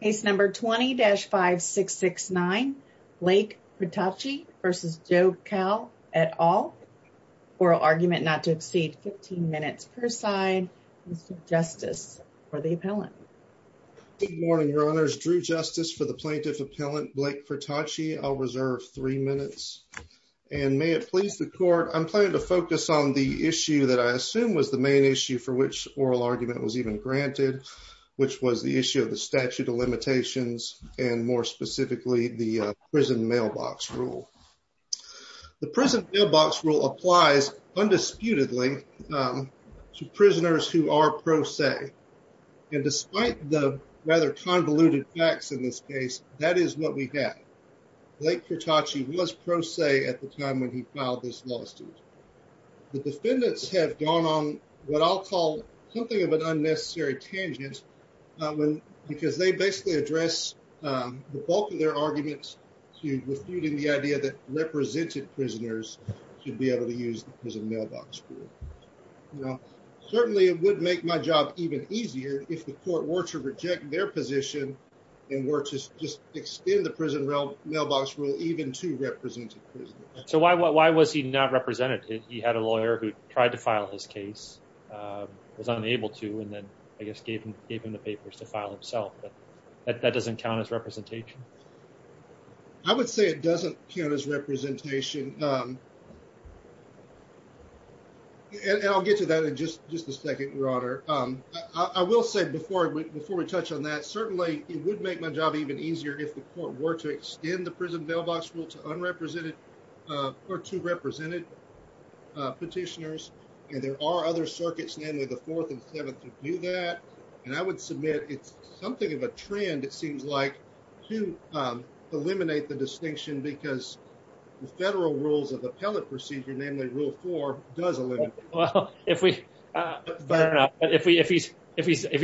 Case number 20-5669, Blake Cretacci v. Joe Call, et al. Oral argument not to exceed 15 minutes per side. Mr. Justice for the appellant. Good morning, your honors. Drew Justice for the plaintiff appellant, Blake Cretacci. I'll reserve three minutes. And may it please the court, I'm planning to focus on the issue that I assume was the main issue for which oral argument was even granted, which was the issue of the statute of limitations and more specifically, the prison mailbox rule. The prison mailbox rule applies undisputedly to prisoners who are pro se. And despite the rather convoluted facts in this case, that is what we have. Blake Cretacci was pro se at the time when he filed this lawsuit. The defendants have gone on what I'll call something of an unnecessary tangent because they basically address the bulk of their arguments refuting the idea that represented prisoners should be able to use the prison mailbox rule. Certainly, it would make my job even easier if the court were to reject their position and were to just extend the prison mailbox rule even to represented prisoners. So why was he not represented? He had a lawyer who tried to file his case, was unable to, and then I guess gave him the papers to file himself, but that doesn't count as representation. I would say it doesn't count as representation. And I'll get to that in just a second, your honor. I will say before we touch on that, certainly it would make my job even easier if the court were to extend the prison mailbox rule to unrepresented or to represented petitioners. And there are other circuits, namely the Fourth and Seventh, to do that. And I would submit it's something of a trend, it seems like, to eliminate the distinction because the federal rules of appellate procedure, namely Rule 4, does eliminate it. Well, if he's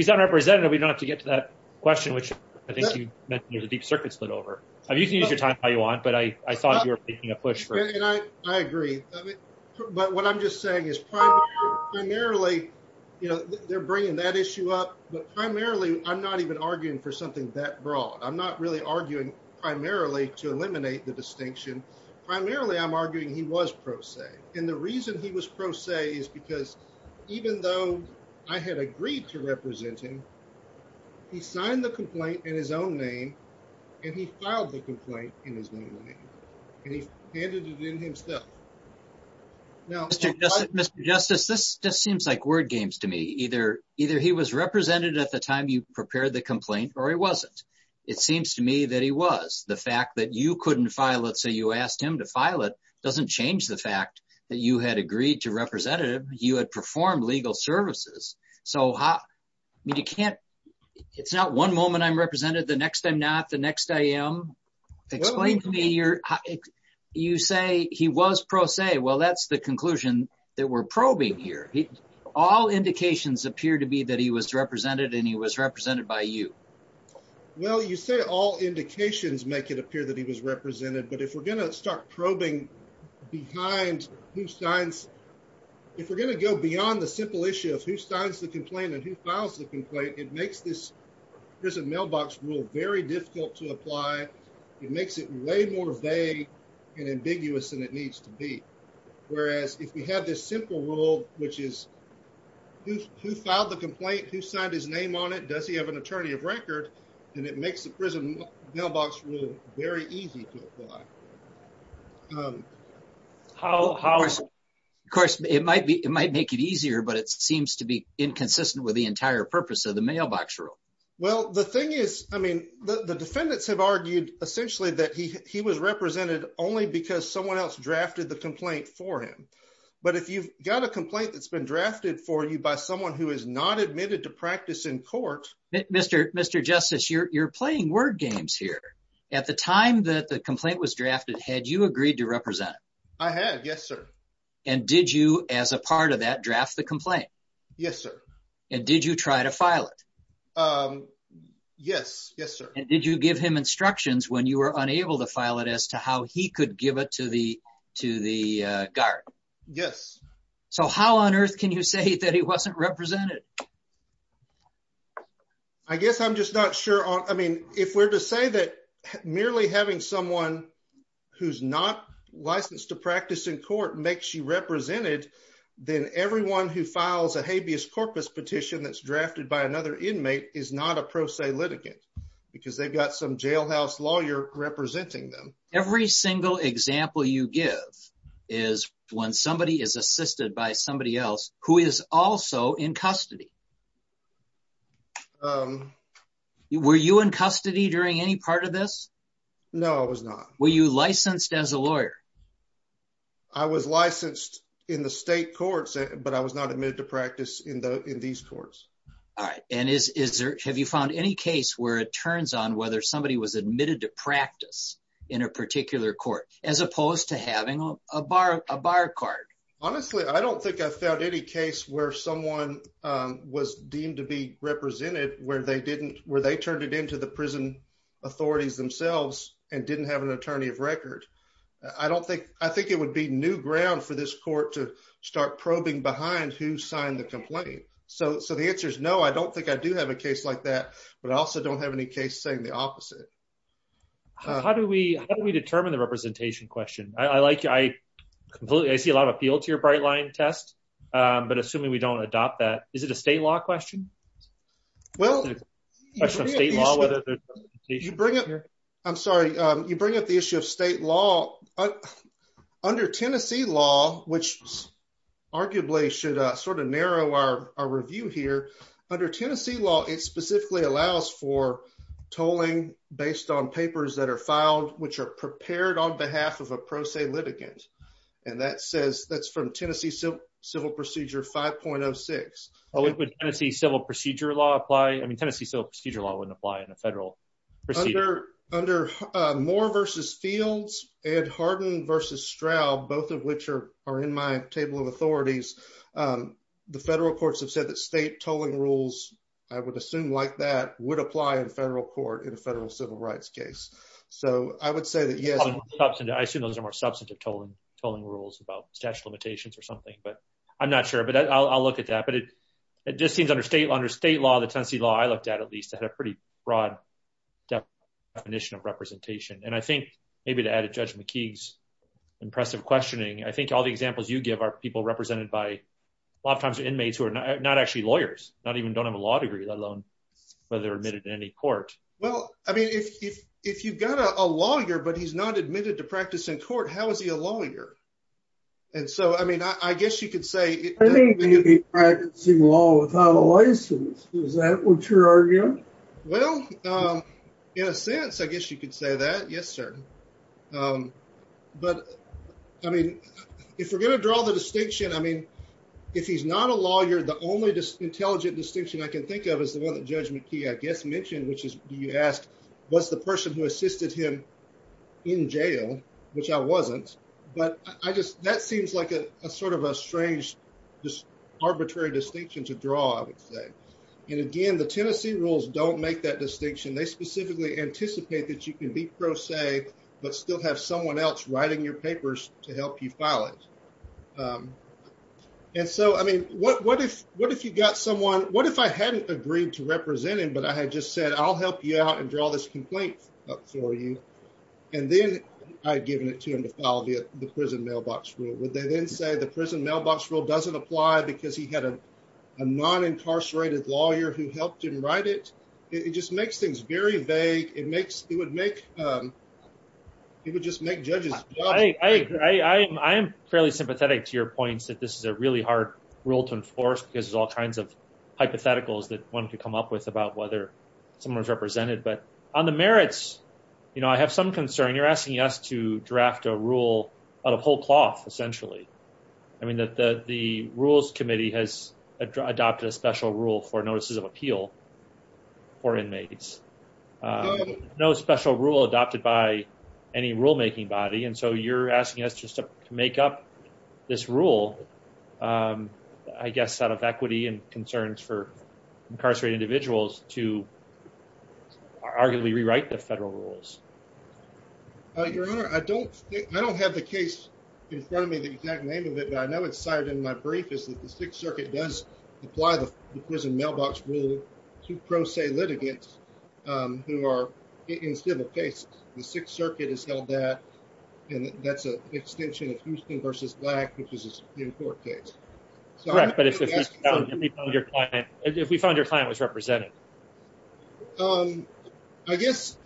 unrepresented, we don't have to get to that question, which I think you mentioned there's a deep circuit split over. You can use your time how you want, but I thought you were making a push for it. I agree. But what I'm just saying is primarily, you know, they're bringing that issue up, but primarily, I'm not even arguing for something that broad. I'm not really arguing primarily to eliminate the distinction. Primarily, I'm arguing he was pro se. And the reason he was pro se is because even though I had agreed to represent him, he signed the complaint in his own name, and he filed the complaint in his own name, and he handed it in himself. Now, Mr. Justice, this just seems like word games to me. Either he was represented at the time you prepared the complaint or he wasn't. It seems to me that he was. The fact that you couldn't file it, so you asked him to file it, doesn't change the fact that you had agreed to represent him. You had performed legal services. So, it's not one moment I'm represented, the next I'm not, the next I am. Explain to me, you say he was pro se. Well, that's the conclusion that we're probing here. All indications appear to be that he was represented and he was represented by you. Well, you say all indications make it appear that he was represented, but if we're going to start probing behind who signs, if we're going to go beyond the simple issue of who signs the complaint and who files the complaint, it makes this prison mailbox rule very difficult to apply. It makes it way more vague and ambiguous than it needs to be. Whereas, if we have this simple rule, which is who filed the complaint, who signed his name on it, does he have an attorney of record, then it makes the prison mailbox rule very easy to apply. Of course, it might make it easier, but it seems to be inconsistent with the entire purpose of the mailbox rule. Well, the thing is, I mean, the defendants have argued essentially that he was represented only because someone else drafted the complaint for him. But if you've got a complaint that's been drafted for you by someone who is not admitted to practice in court. Mr. Justice, you're playing word games here. At the time that the complaint was drafted, had you agreed to represent him? I had. Yes, sir. And did you, as a part of that, draft the complaint? Yes, sir. And did you try to file it? Yes. Yes, sir. And did you give him instructions when you were unable to file it as to how he could give it to the guard? Yes. So how on earth can you say that he wasn't represented? I guess I'm just not sure. I mean, if we're to say that merely having someone who's not licensed to practice in court makes you represented, then everyone who files a habeas corpus petition that's drafted by another inmate is not a pro se litigant because they've got some jailhouse lawyer representing them. Every single example you give is when somebody is assisted by somebody else who is also in custody. Were you in custody during any part of this? No, I was not. Were you licensed as a lawyer? I was licensed in the state courts, but I was not admitted to practice in these courts. All right. And have you found any case where it turns on whether somebody was admitted to practice in a particular court as opposed to having a bar card? Honestly, I don't think I've found any case where someone was deemed to be represented where they turned it into the prison authorities themselves and didn't have an attorney of record. I think it would be new ground for this court to start probing behind who signed the complaint. So the answer is no, I don't think I do have a case like that, but I also don't have any case saying the opposite. How do we determine the representation question? I see a lot of appeal to your Brightline test, but assuming we don't adopt that, is it a state law question? I'm sorry, you bring up the issue of state law. Under Tennessee law, which arguably should sort of narrow our review here, under Tennessee law, it specifically allows for tolling based on papers that are filed which are prepared on behalf of a pro se litigant. And that's from Tennessee Civil Procedure 5.06. Would Tennessee Civil Procedure law apply? I mean, Tennessee Civil Procedure law wouldn't apply in a federal procedure. Under Moore v. Fields, Ed Hardin v. Stroud, both of which are in my table of authorities, the federal courts have said that state tolling rules, I would assume like that, would apply in federal court in a federal civil rights case. So I would say that yes. I assume those are more substantive tolling rules about statute of limitations or something, but I'm not sure, but I'll look at that. But it just seems under state law, under state law, the Tennessee law I looked at, at least, had a pretty broad definition of representation. And I think maybe to add to Judge McKee's impressive questioning, I think all the examples you give are people represented by, a lot of times, are inmates who are not actually lawyers, not even don't have a law degree, let alone whether they're admitted to any court. Well, I mean, if you've got a lawyer, but he's not admitted to practice in court, how is he a lawyer? And so, I mean, I guess you could say... I think he'd be practicing law without a license. Is that what you're arguing? Well, in a sense, I guess you could say that. Yes, sir. But, I mean, if we're going to draw the distinction, I mean, if he's not a lawyer, the only intelligent distinction I can think of is the one that Judge McKee, I guess, mentioned, which is, you asked, was the person who assisted him in jail, which I wasn't, but I just, that seems like a sort of a strange, just arbitrary distinction to draw, I would say. And again, the Tennessee rules don't make that distinction. They specifically anticipate that you can be pro se, but still have someone else writing your papers to help you file it. And so, I mean, what if you got someone, what if I hadn't agreed to represent him, but I had just said, I'll help you out and draw this complaint up for you. And then I'd given it to him to file the prison mailbox rule. Would they then say the prison mailbox rule doesn't apply because he had a non-incarcerated lawyer who helped him write it? It just makes things very vague. It makes, it would make, it would just make judges jobless. I agree. I am fairly sympathetic to your points that this is a really hard rule to enforce because there's all kinds of hypotheticals that one could come up with about whether someone's represented. But on the merits, you know, I have some concern. You're asking us to draft a rule out of whole cloth, essentially. I mean, the rules committee has adopted a special rule for notices of appeal. For inmates. No special rule adopted by any rulemaking body. And so, you're asking us just to make up this rule, I guess, out of equity and concerns for incarcerated individuals to arguably rewrite the federal rules. Your Honor, I don't have the case in front of me, the exact name of it, but I know it's cited in my brief, which is that the Sixth Circuit does apply the prison mailbox rule to pro se litigants who are in civil cases. The Sixth Circuit has held that, and that's an extension of Houston v. Black, which is a Supreme Court case. Correct. But if we found your client was represented? I guess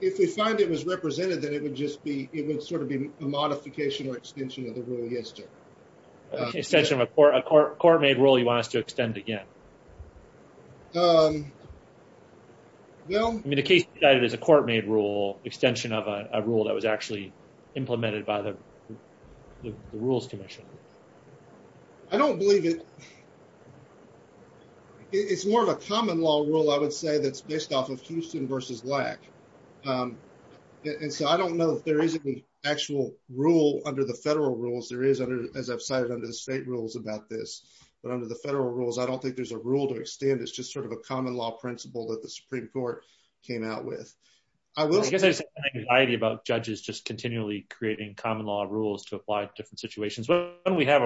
if we find it was represented, then it would just be, it would sort of be a modification or extension of the rule. I guess so. Extension of a court-made rule you want us to extend again? Um, no. I mean, the case cited is a court-made rule, extension of a rule that was actually implemented by the rules commission. I don't believe it. It's more of a common law rule, I would say, that's based off of Houston v. Black. And so, I don't know if there is an actual rule under the federal rules. There is, as I've cited under the state rules about this. But under the federal rules, I don't think there's a rule to extend. It's just sort of a common law principle that the Supreme Court came out with. I guess there's an anxiety about judges just continually creating common law rules to apply to different situations. When we have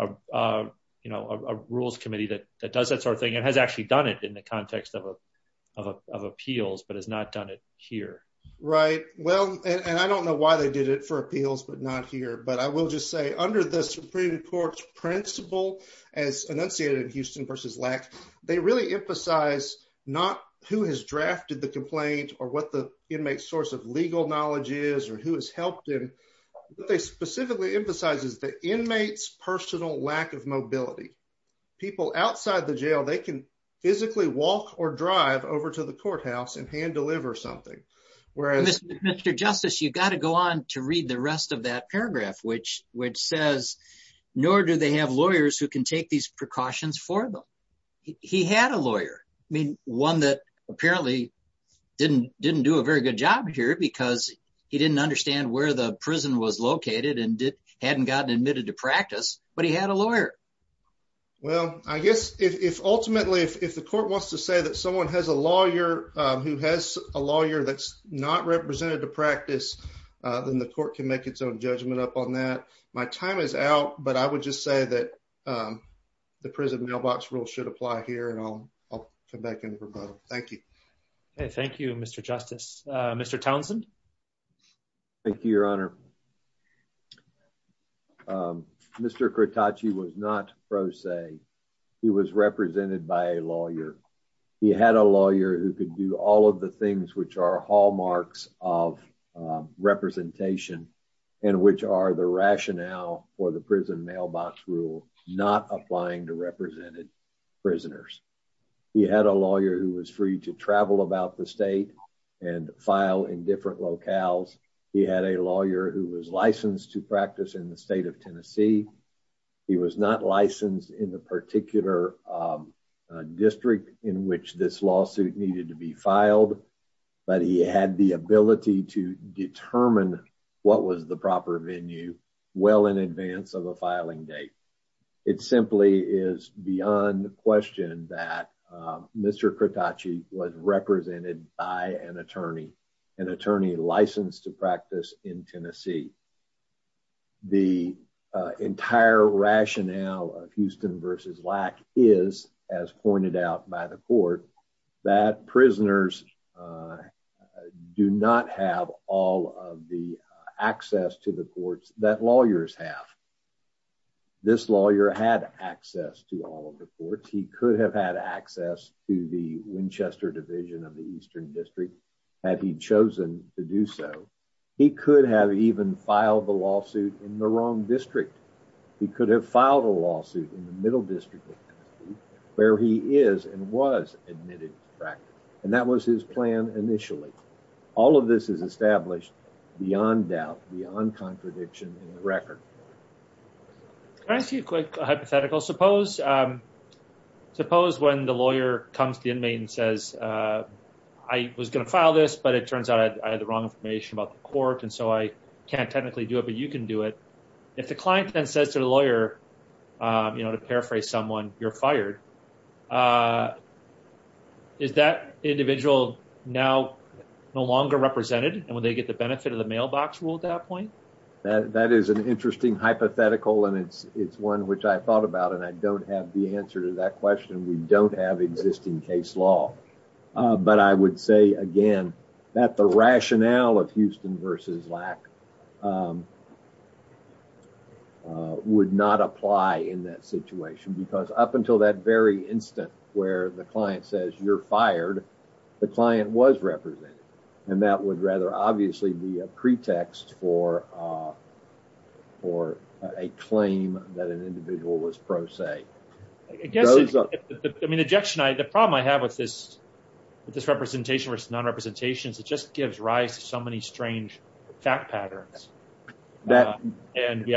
a rules committee that does that sort of thing, it has actually done it in the context of appeals, but has not done it here. Right. Well, and I don't know why they did it for appeals, but not here. But I will just say, under the Supreme Court's principle, as enunciated in Houston v. Black, they really emphasize not who has drafted the complaint or what the inmate's source of legal knowledge is or who has helped him. What they specifically emphasize is the inmate's personal lack of mobility. People outside the jail, they can physically walk or drive over to the courthouse and hand deliver something. Mr. Justice, you've got to go on to read the rest of that paragraph, which says, nor do they have lawyers who can take these precautions for them. He had a lawyer. One that apparently didn't do a very good job here because he didn't understand where the prison was located and hadn't gotten admitted to practice, but he had a lawyer. Well, I guess, ultimately, if the court wants to say that someone has a lawyer that's not represented to practice, then the court can make its own judgment up on that. My time is out, but I would just say that the prison mailbox rule should apply here, and I'll come back in for both. Thank you. Okay, thank you, Mr. Justice. Mr. Townsend? Thank you, Your Honor. Mr. Krotaci was not pro se. He was represented by a lawyer. He had a lawyer who could do all of the things which are hallmarks of representation and which are the rationale for the prison mailbox rule not applying to represented prisoners. He had a lawyer who was free to travel about the state and file in different locales. He had a lawyer who was licensed to practice in the state of Tennessee. He was not licensed in the particular district in which this lawsuit needed to be filed, but he had the ability to determine what was the proper venue well in advance of a filing date. It simply is beyond question that Mr. Krotaci was represented by an attorney, an attorney licensed to practice in Tennessee. The entire rationale of Houston v. Lack is, as pointed out by the court, that prisoners do not have all of the access to the courts that lawyers have. This lawyer had access to all of the courts. He could have had access to the Winchester Division of the Eastern District had he chosen to do so. He could have even filed the lawsuit in the wrong district. He could have filed a lawsuit in the Middle District of Tennessee where he is and was admitted to practice, and that was his plan initially. All of this is established beyond doubt, beyond contradiction in the record. Can I ask you a quick hypothetical? Suppose when the lawyer comes to the inmate and says, I was going to file this, but it turns out I had the wrong information about the court, and so I can't technically do it, but you can do it. If the client then says to the lawyer, to paraphrase someone, you're fired, is that individual now no longer represented? Would they get the benefit of the mailbox rule at that point? That is an interesting hypothetical, and it's one which I thought about, and I don't have the answer to that question. We don't have existing case law, but I would say, again, that the rationale of Houston v. Lack would not apply in that situation because up until that very instant where the client says, you're fired, the client was represented, and that would rather, obviously, be a pretext for a claim that an individual was pro se. The problem I have with this representation versus non-representation is it just gives rise to so many strange fact patterns. We have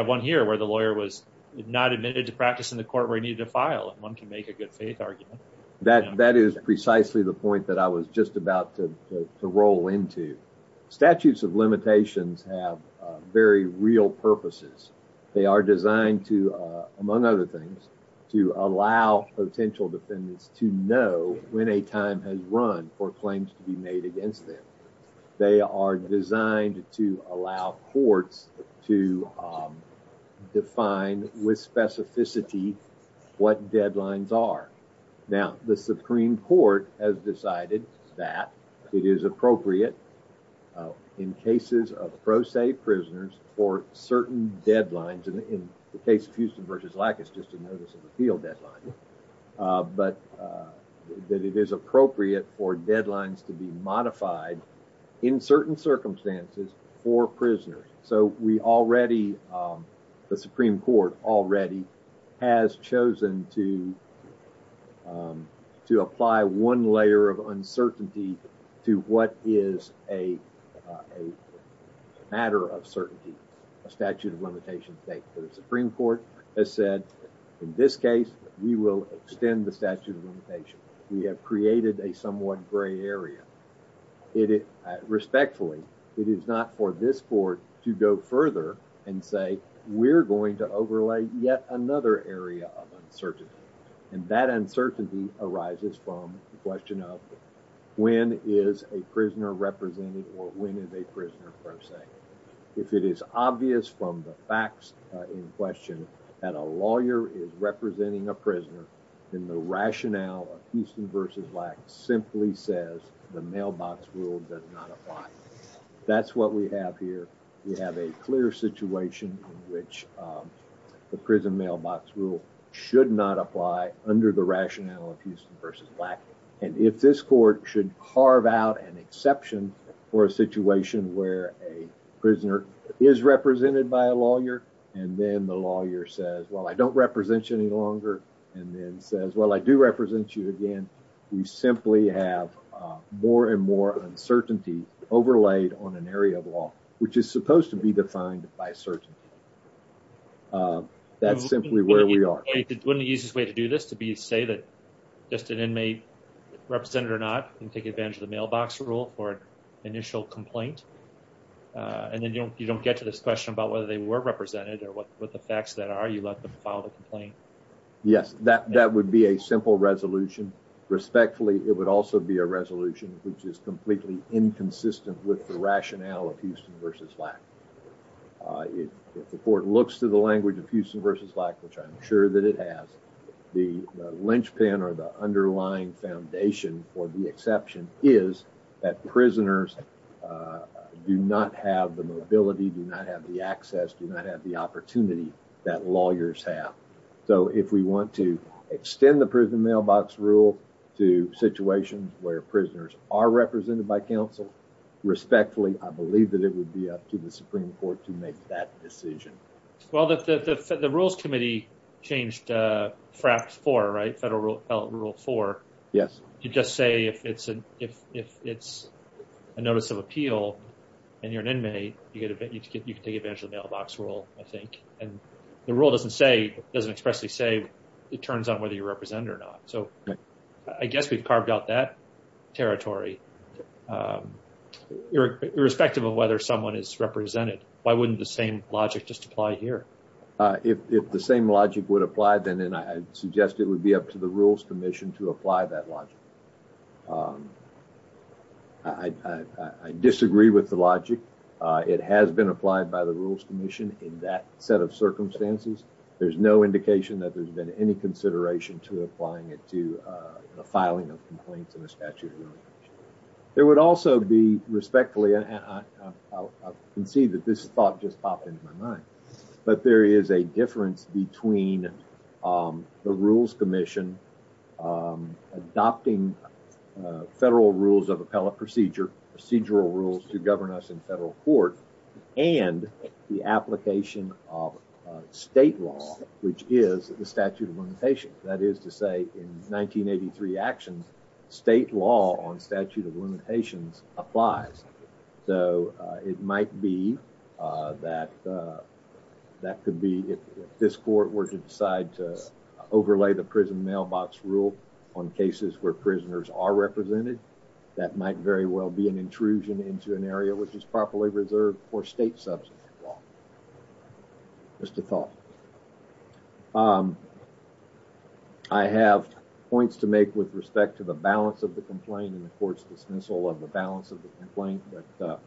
one here where the lawyer was not admitted to practice in the court where he needed to file, and one can make a good faith argument. That is precisely the point that I was just about to roll into. Statutes of limitations have very real purposes. They are designed to, among other things, to allow potential defendants to know when a time has run for claims to be made against them. They are designed to allow courts to define with specificity what deadlines are. Now, the Supreme Court has decided that it is appropriate in cases of pro se prisoners for certain deadlines. In the case of Houston v. Lack, it's just a notice of appeal deadline. But that it is appropriate for deadlines to be modified in certain circumstances for prisoners. So we already, the Supreme Court already, has chosen to apply one layer of uncertainty to what is a matter of certainty. A statute of limitations. The Supreme Court has said, in this case, we will extend the statute of limitations. We have created a somewhat gray area. Respectfully, it is not for this court to go further and say we're going to overlay yet another area of uncertainty. And that uncertainty arises from the question of when is a prisoner represented or when is a prisoner pro se. If it is obvious from the facts in question that a lawyer is representing a prisoner, then the rationale of Houston v. Lack simply says the mailbox rule does not apply. That's what we have here. We have a clear situation in which the prison mailbox rule should not apply under the rationale of Houston v. Lack. And if this court should carve out an exception for a situation where a prisoner is represented by a lawyer and then the lawyer says, well, I don't represent you any longer, and then says, well, I do represent you again, we simply have more and more uncertainty overlaid on an area of law, which is supposed to be defined by certainty. That's simply where we are. Wouldn't the easiest way to do this to say that just an inmate, represented or not, can take advantage of the mailbox rule for an initial complaint? And then you don't get to this question about whether they were represented or what the facts that are. You let them file the complaint. Yes, that would be a simple resolution. Respectfully, it would also be a resolution which is completely inconsistent with the rationale of Houston v. Lack. If the court looks to the language of Houston v. Lack, which I'm sure that it has, the linchpin or the underlying foundation for the exception is that prisoners do not have the mobility, do not have the access, do not have the opportunity that lawyers have. So if we want to extend the prison mailbox rule to situations where prisoners are represented by counsel, respectfully, I believe that it would be up to the Supreme Court to make that decision. Well, the Rules Committee changed FRAP 4, right? Federal Rule 4. Yes. You just say if it's a notice of appeal and you're an inmate, you can take advantage of the mailbox rule, I think. And the rule doesn't expressly say it turns on whether you're represented or not. So I guess we've carved out that territory. Irrespective of whether someone is represented, why wouldn't the same logic just apply here? If the same logic would apply, then I suggest it would be up to the Rules Commission to apply that logic. I disagree with the logic. It has been applied by the Rules Commission in that set of circumstances. There's no indication that there's been any consideration to applying it to a filing of complaints in a statute of limitations. There would also be, respectfully, I can see that this thought just popped into my mind, but there is a difference between the Rules Commission adopting federal rules of appellate procedure, procedural rules to govern us in federal court, and the application of state law, which is the statute of limitations. That is to say, in 1983 actions, state law on statute of limitations applies. So it might be that that could be, if this court were to decide to overlay the prison mailbox rule on cases where prisoners are represented, that might very well be an intrusion into an area which is properly reserved for state substance law. Just a thought. I have points to make with respect to the balance of the complaint and the court's dismissal of the balance of the complaint, but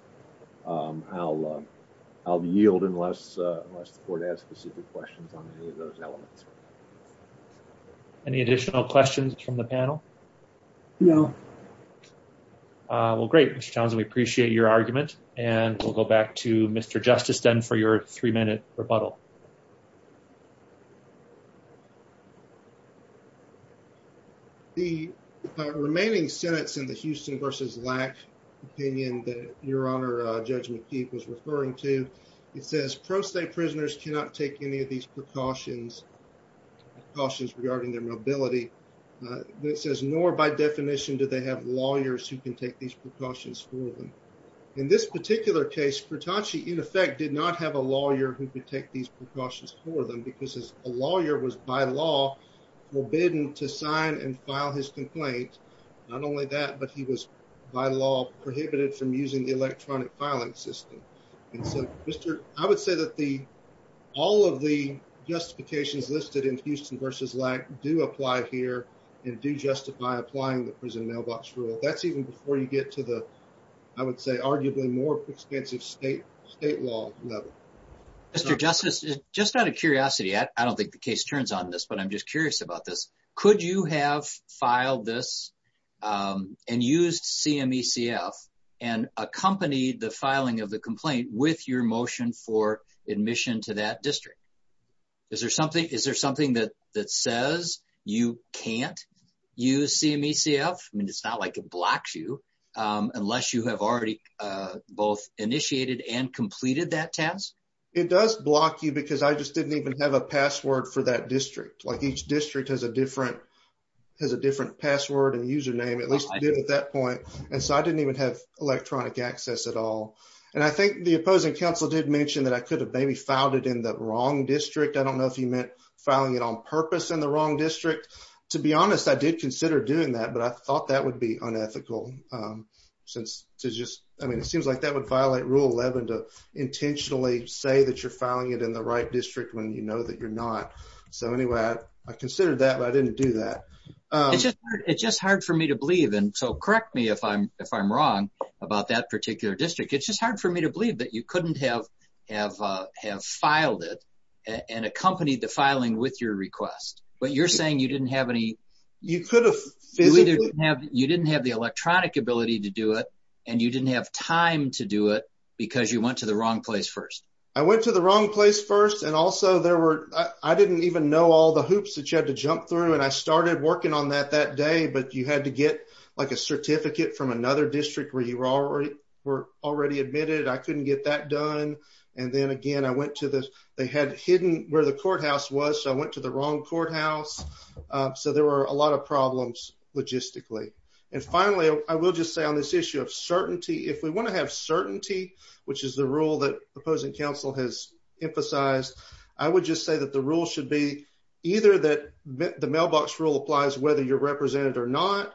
I'll yield unless the court has specific questions on any of those elements. Any additional questions from the panel? No. Well, great, Mr. Townsend. We appreciate your argument, and we'll go back to Mr. Justice to extend for your three-minute rebuttal. The remaining sentence in the Houston v. Lack opinion that Your Honor, Judge McKee was referring to, it says pro se prisoners cannot take any of these precautions, precautions regarding their mobility. It says, nor by definition do they have lawyers who can take these precautions for them. In this particular case, Furtachi, in effect, did not have a lawyer who could take these precautions for them because a lawyer was by law forbidden to sign and file his complaint. Not only that, but he was by law prohibited from using the electronic filing system. I would say that all of the justifications listed in Houston v. Lack do apply here and do justify applying the prison mailbox rule. That's even before you get to the, I would say, arguably more extensive state law level. Mr. Justice, just out of curiosity, I don't think the case turns on this, but I'm just curious about this. Could you have filed this and used CMECF and accompanied the filing of the complaint with your motion for admission to that district? Is there something that says you can't use CMECF? I mean, it's not like it blocks you unless you have already both initiated and completed that task. It does block you because I just didn't even have a password for that district. Each district has a different password and username, at least it did at that point. I didn't even have electronic access at all. The opposing counsel did mention that I could have maybe filed it in the wrong district. I don't know if he meant filing it on purpose in the wrong district. To be honest, I did consider doing that, but I thought that would be unethical. It seems like that would violate Rule 11 to intentionally say that you're filing it in the right district when you know that you're not. Anyway, I considered that, but I didn't do that. It's just hard for me to believe, and so correct me if I'm wrong about that particular district. It's just hard for me to believe that you couldn't have filed it and accompanied the filing with your request. But you're saying you didn't have any... You didn't have the electronic ability to do it and you didn't have time to do it because you went to the wrong place first. I went to the wrong place first, and also I didn't even know all the hoops that you had to jump through. I started working on that that day, but you had to get a certificate from another district where you were already admitted. I couldn't get that done, and then again they had hidden where the courthouse was, so I went to the wrong courthouse. So there were a lot of problems logistically. And finally I will just say on this issue of certainty if we want to have certainty, which is the rule that opposing counsel has emphasized, I would just say that the rule should be either that the mailbox rule applies whether you're represented or not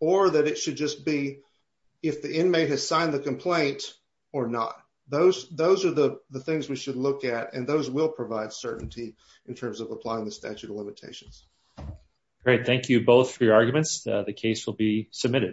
or that it should just be if the inmate has signed the complaint or not. Those are the things we should look at and those will provide certainty in terms of applying the statute of limitations. Great. Thank you both for your arguments. The case will be submitted.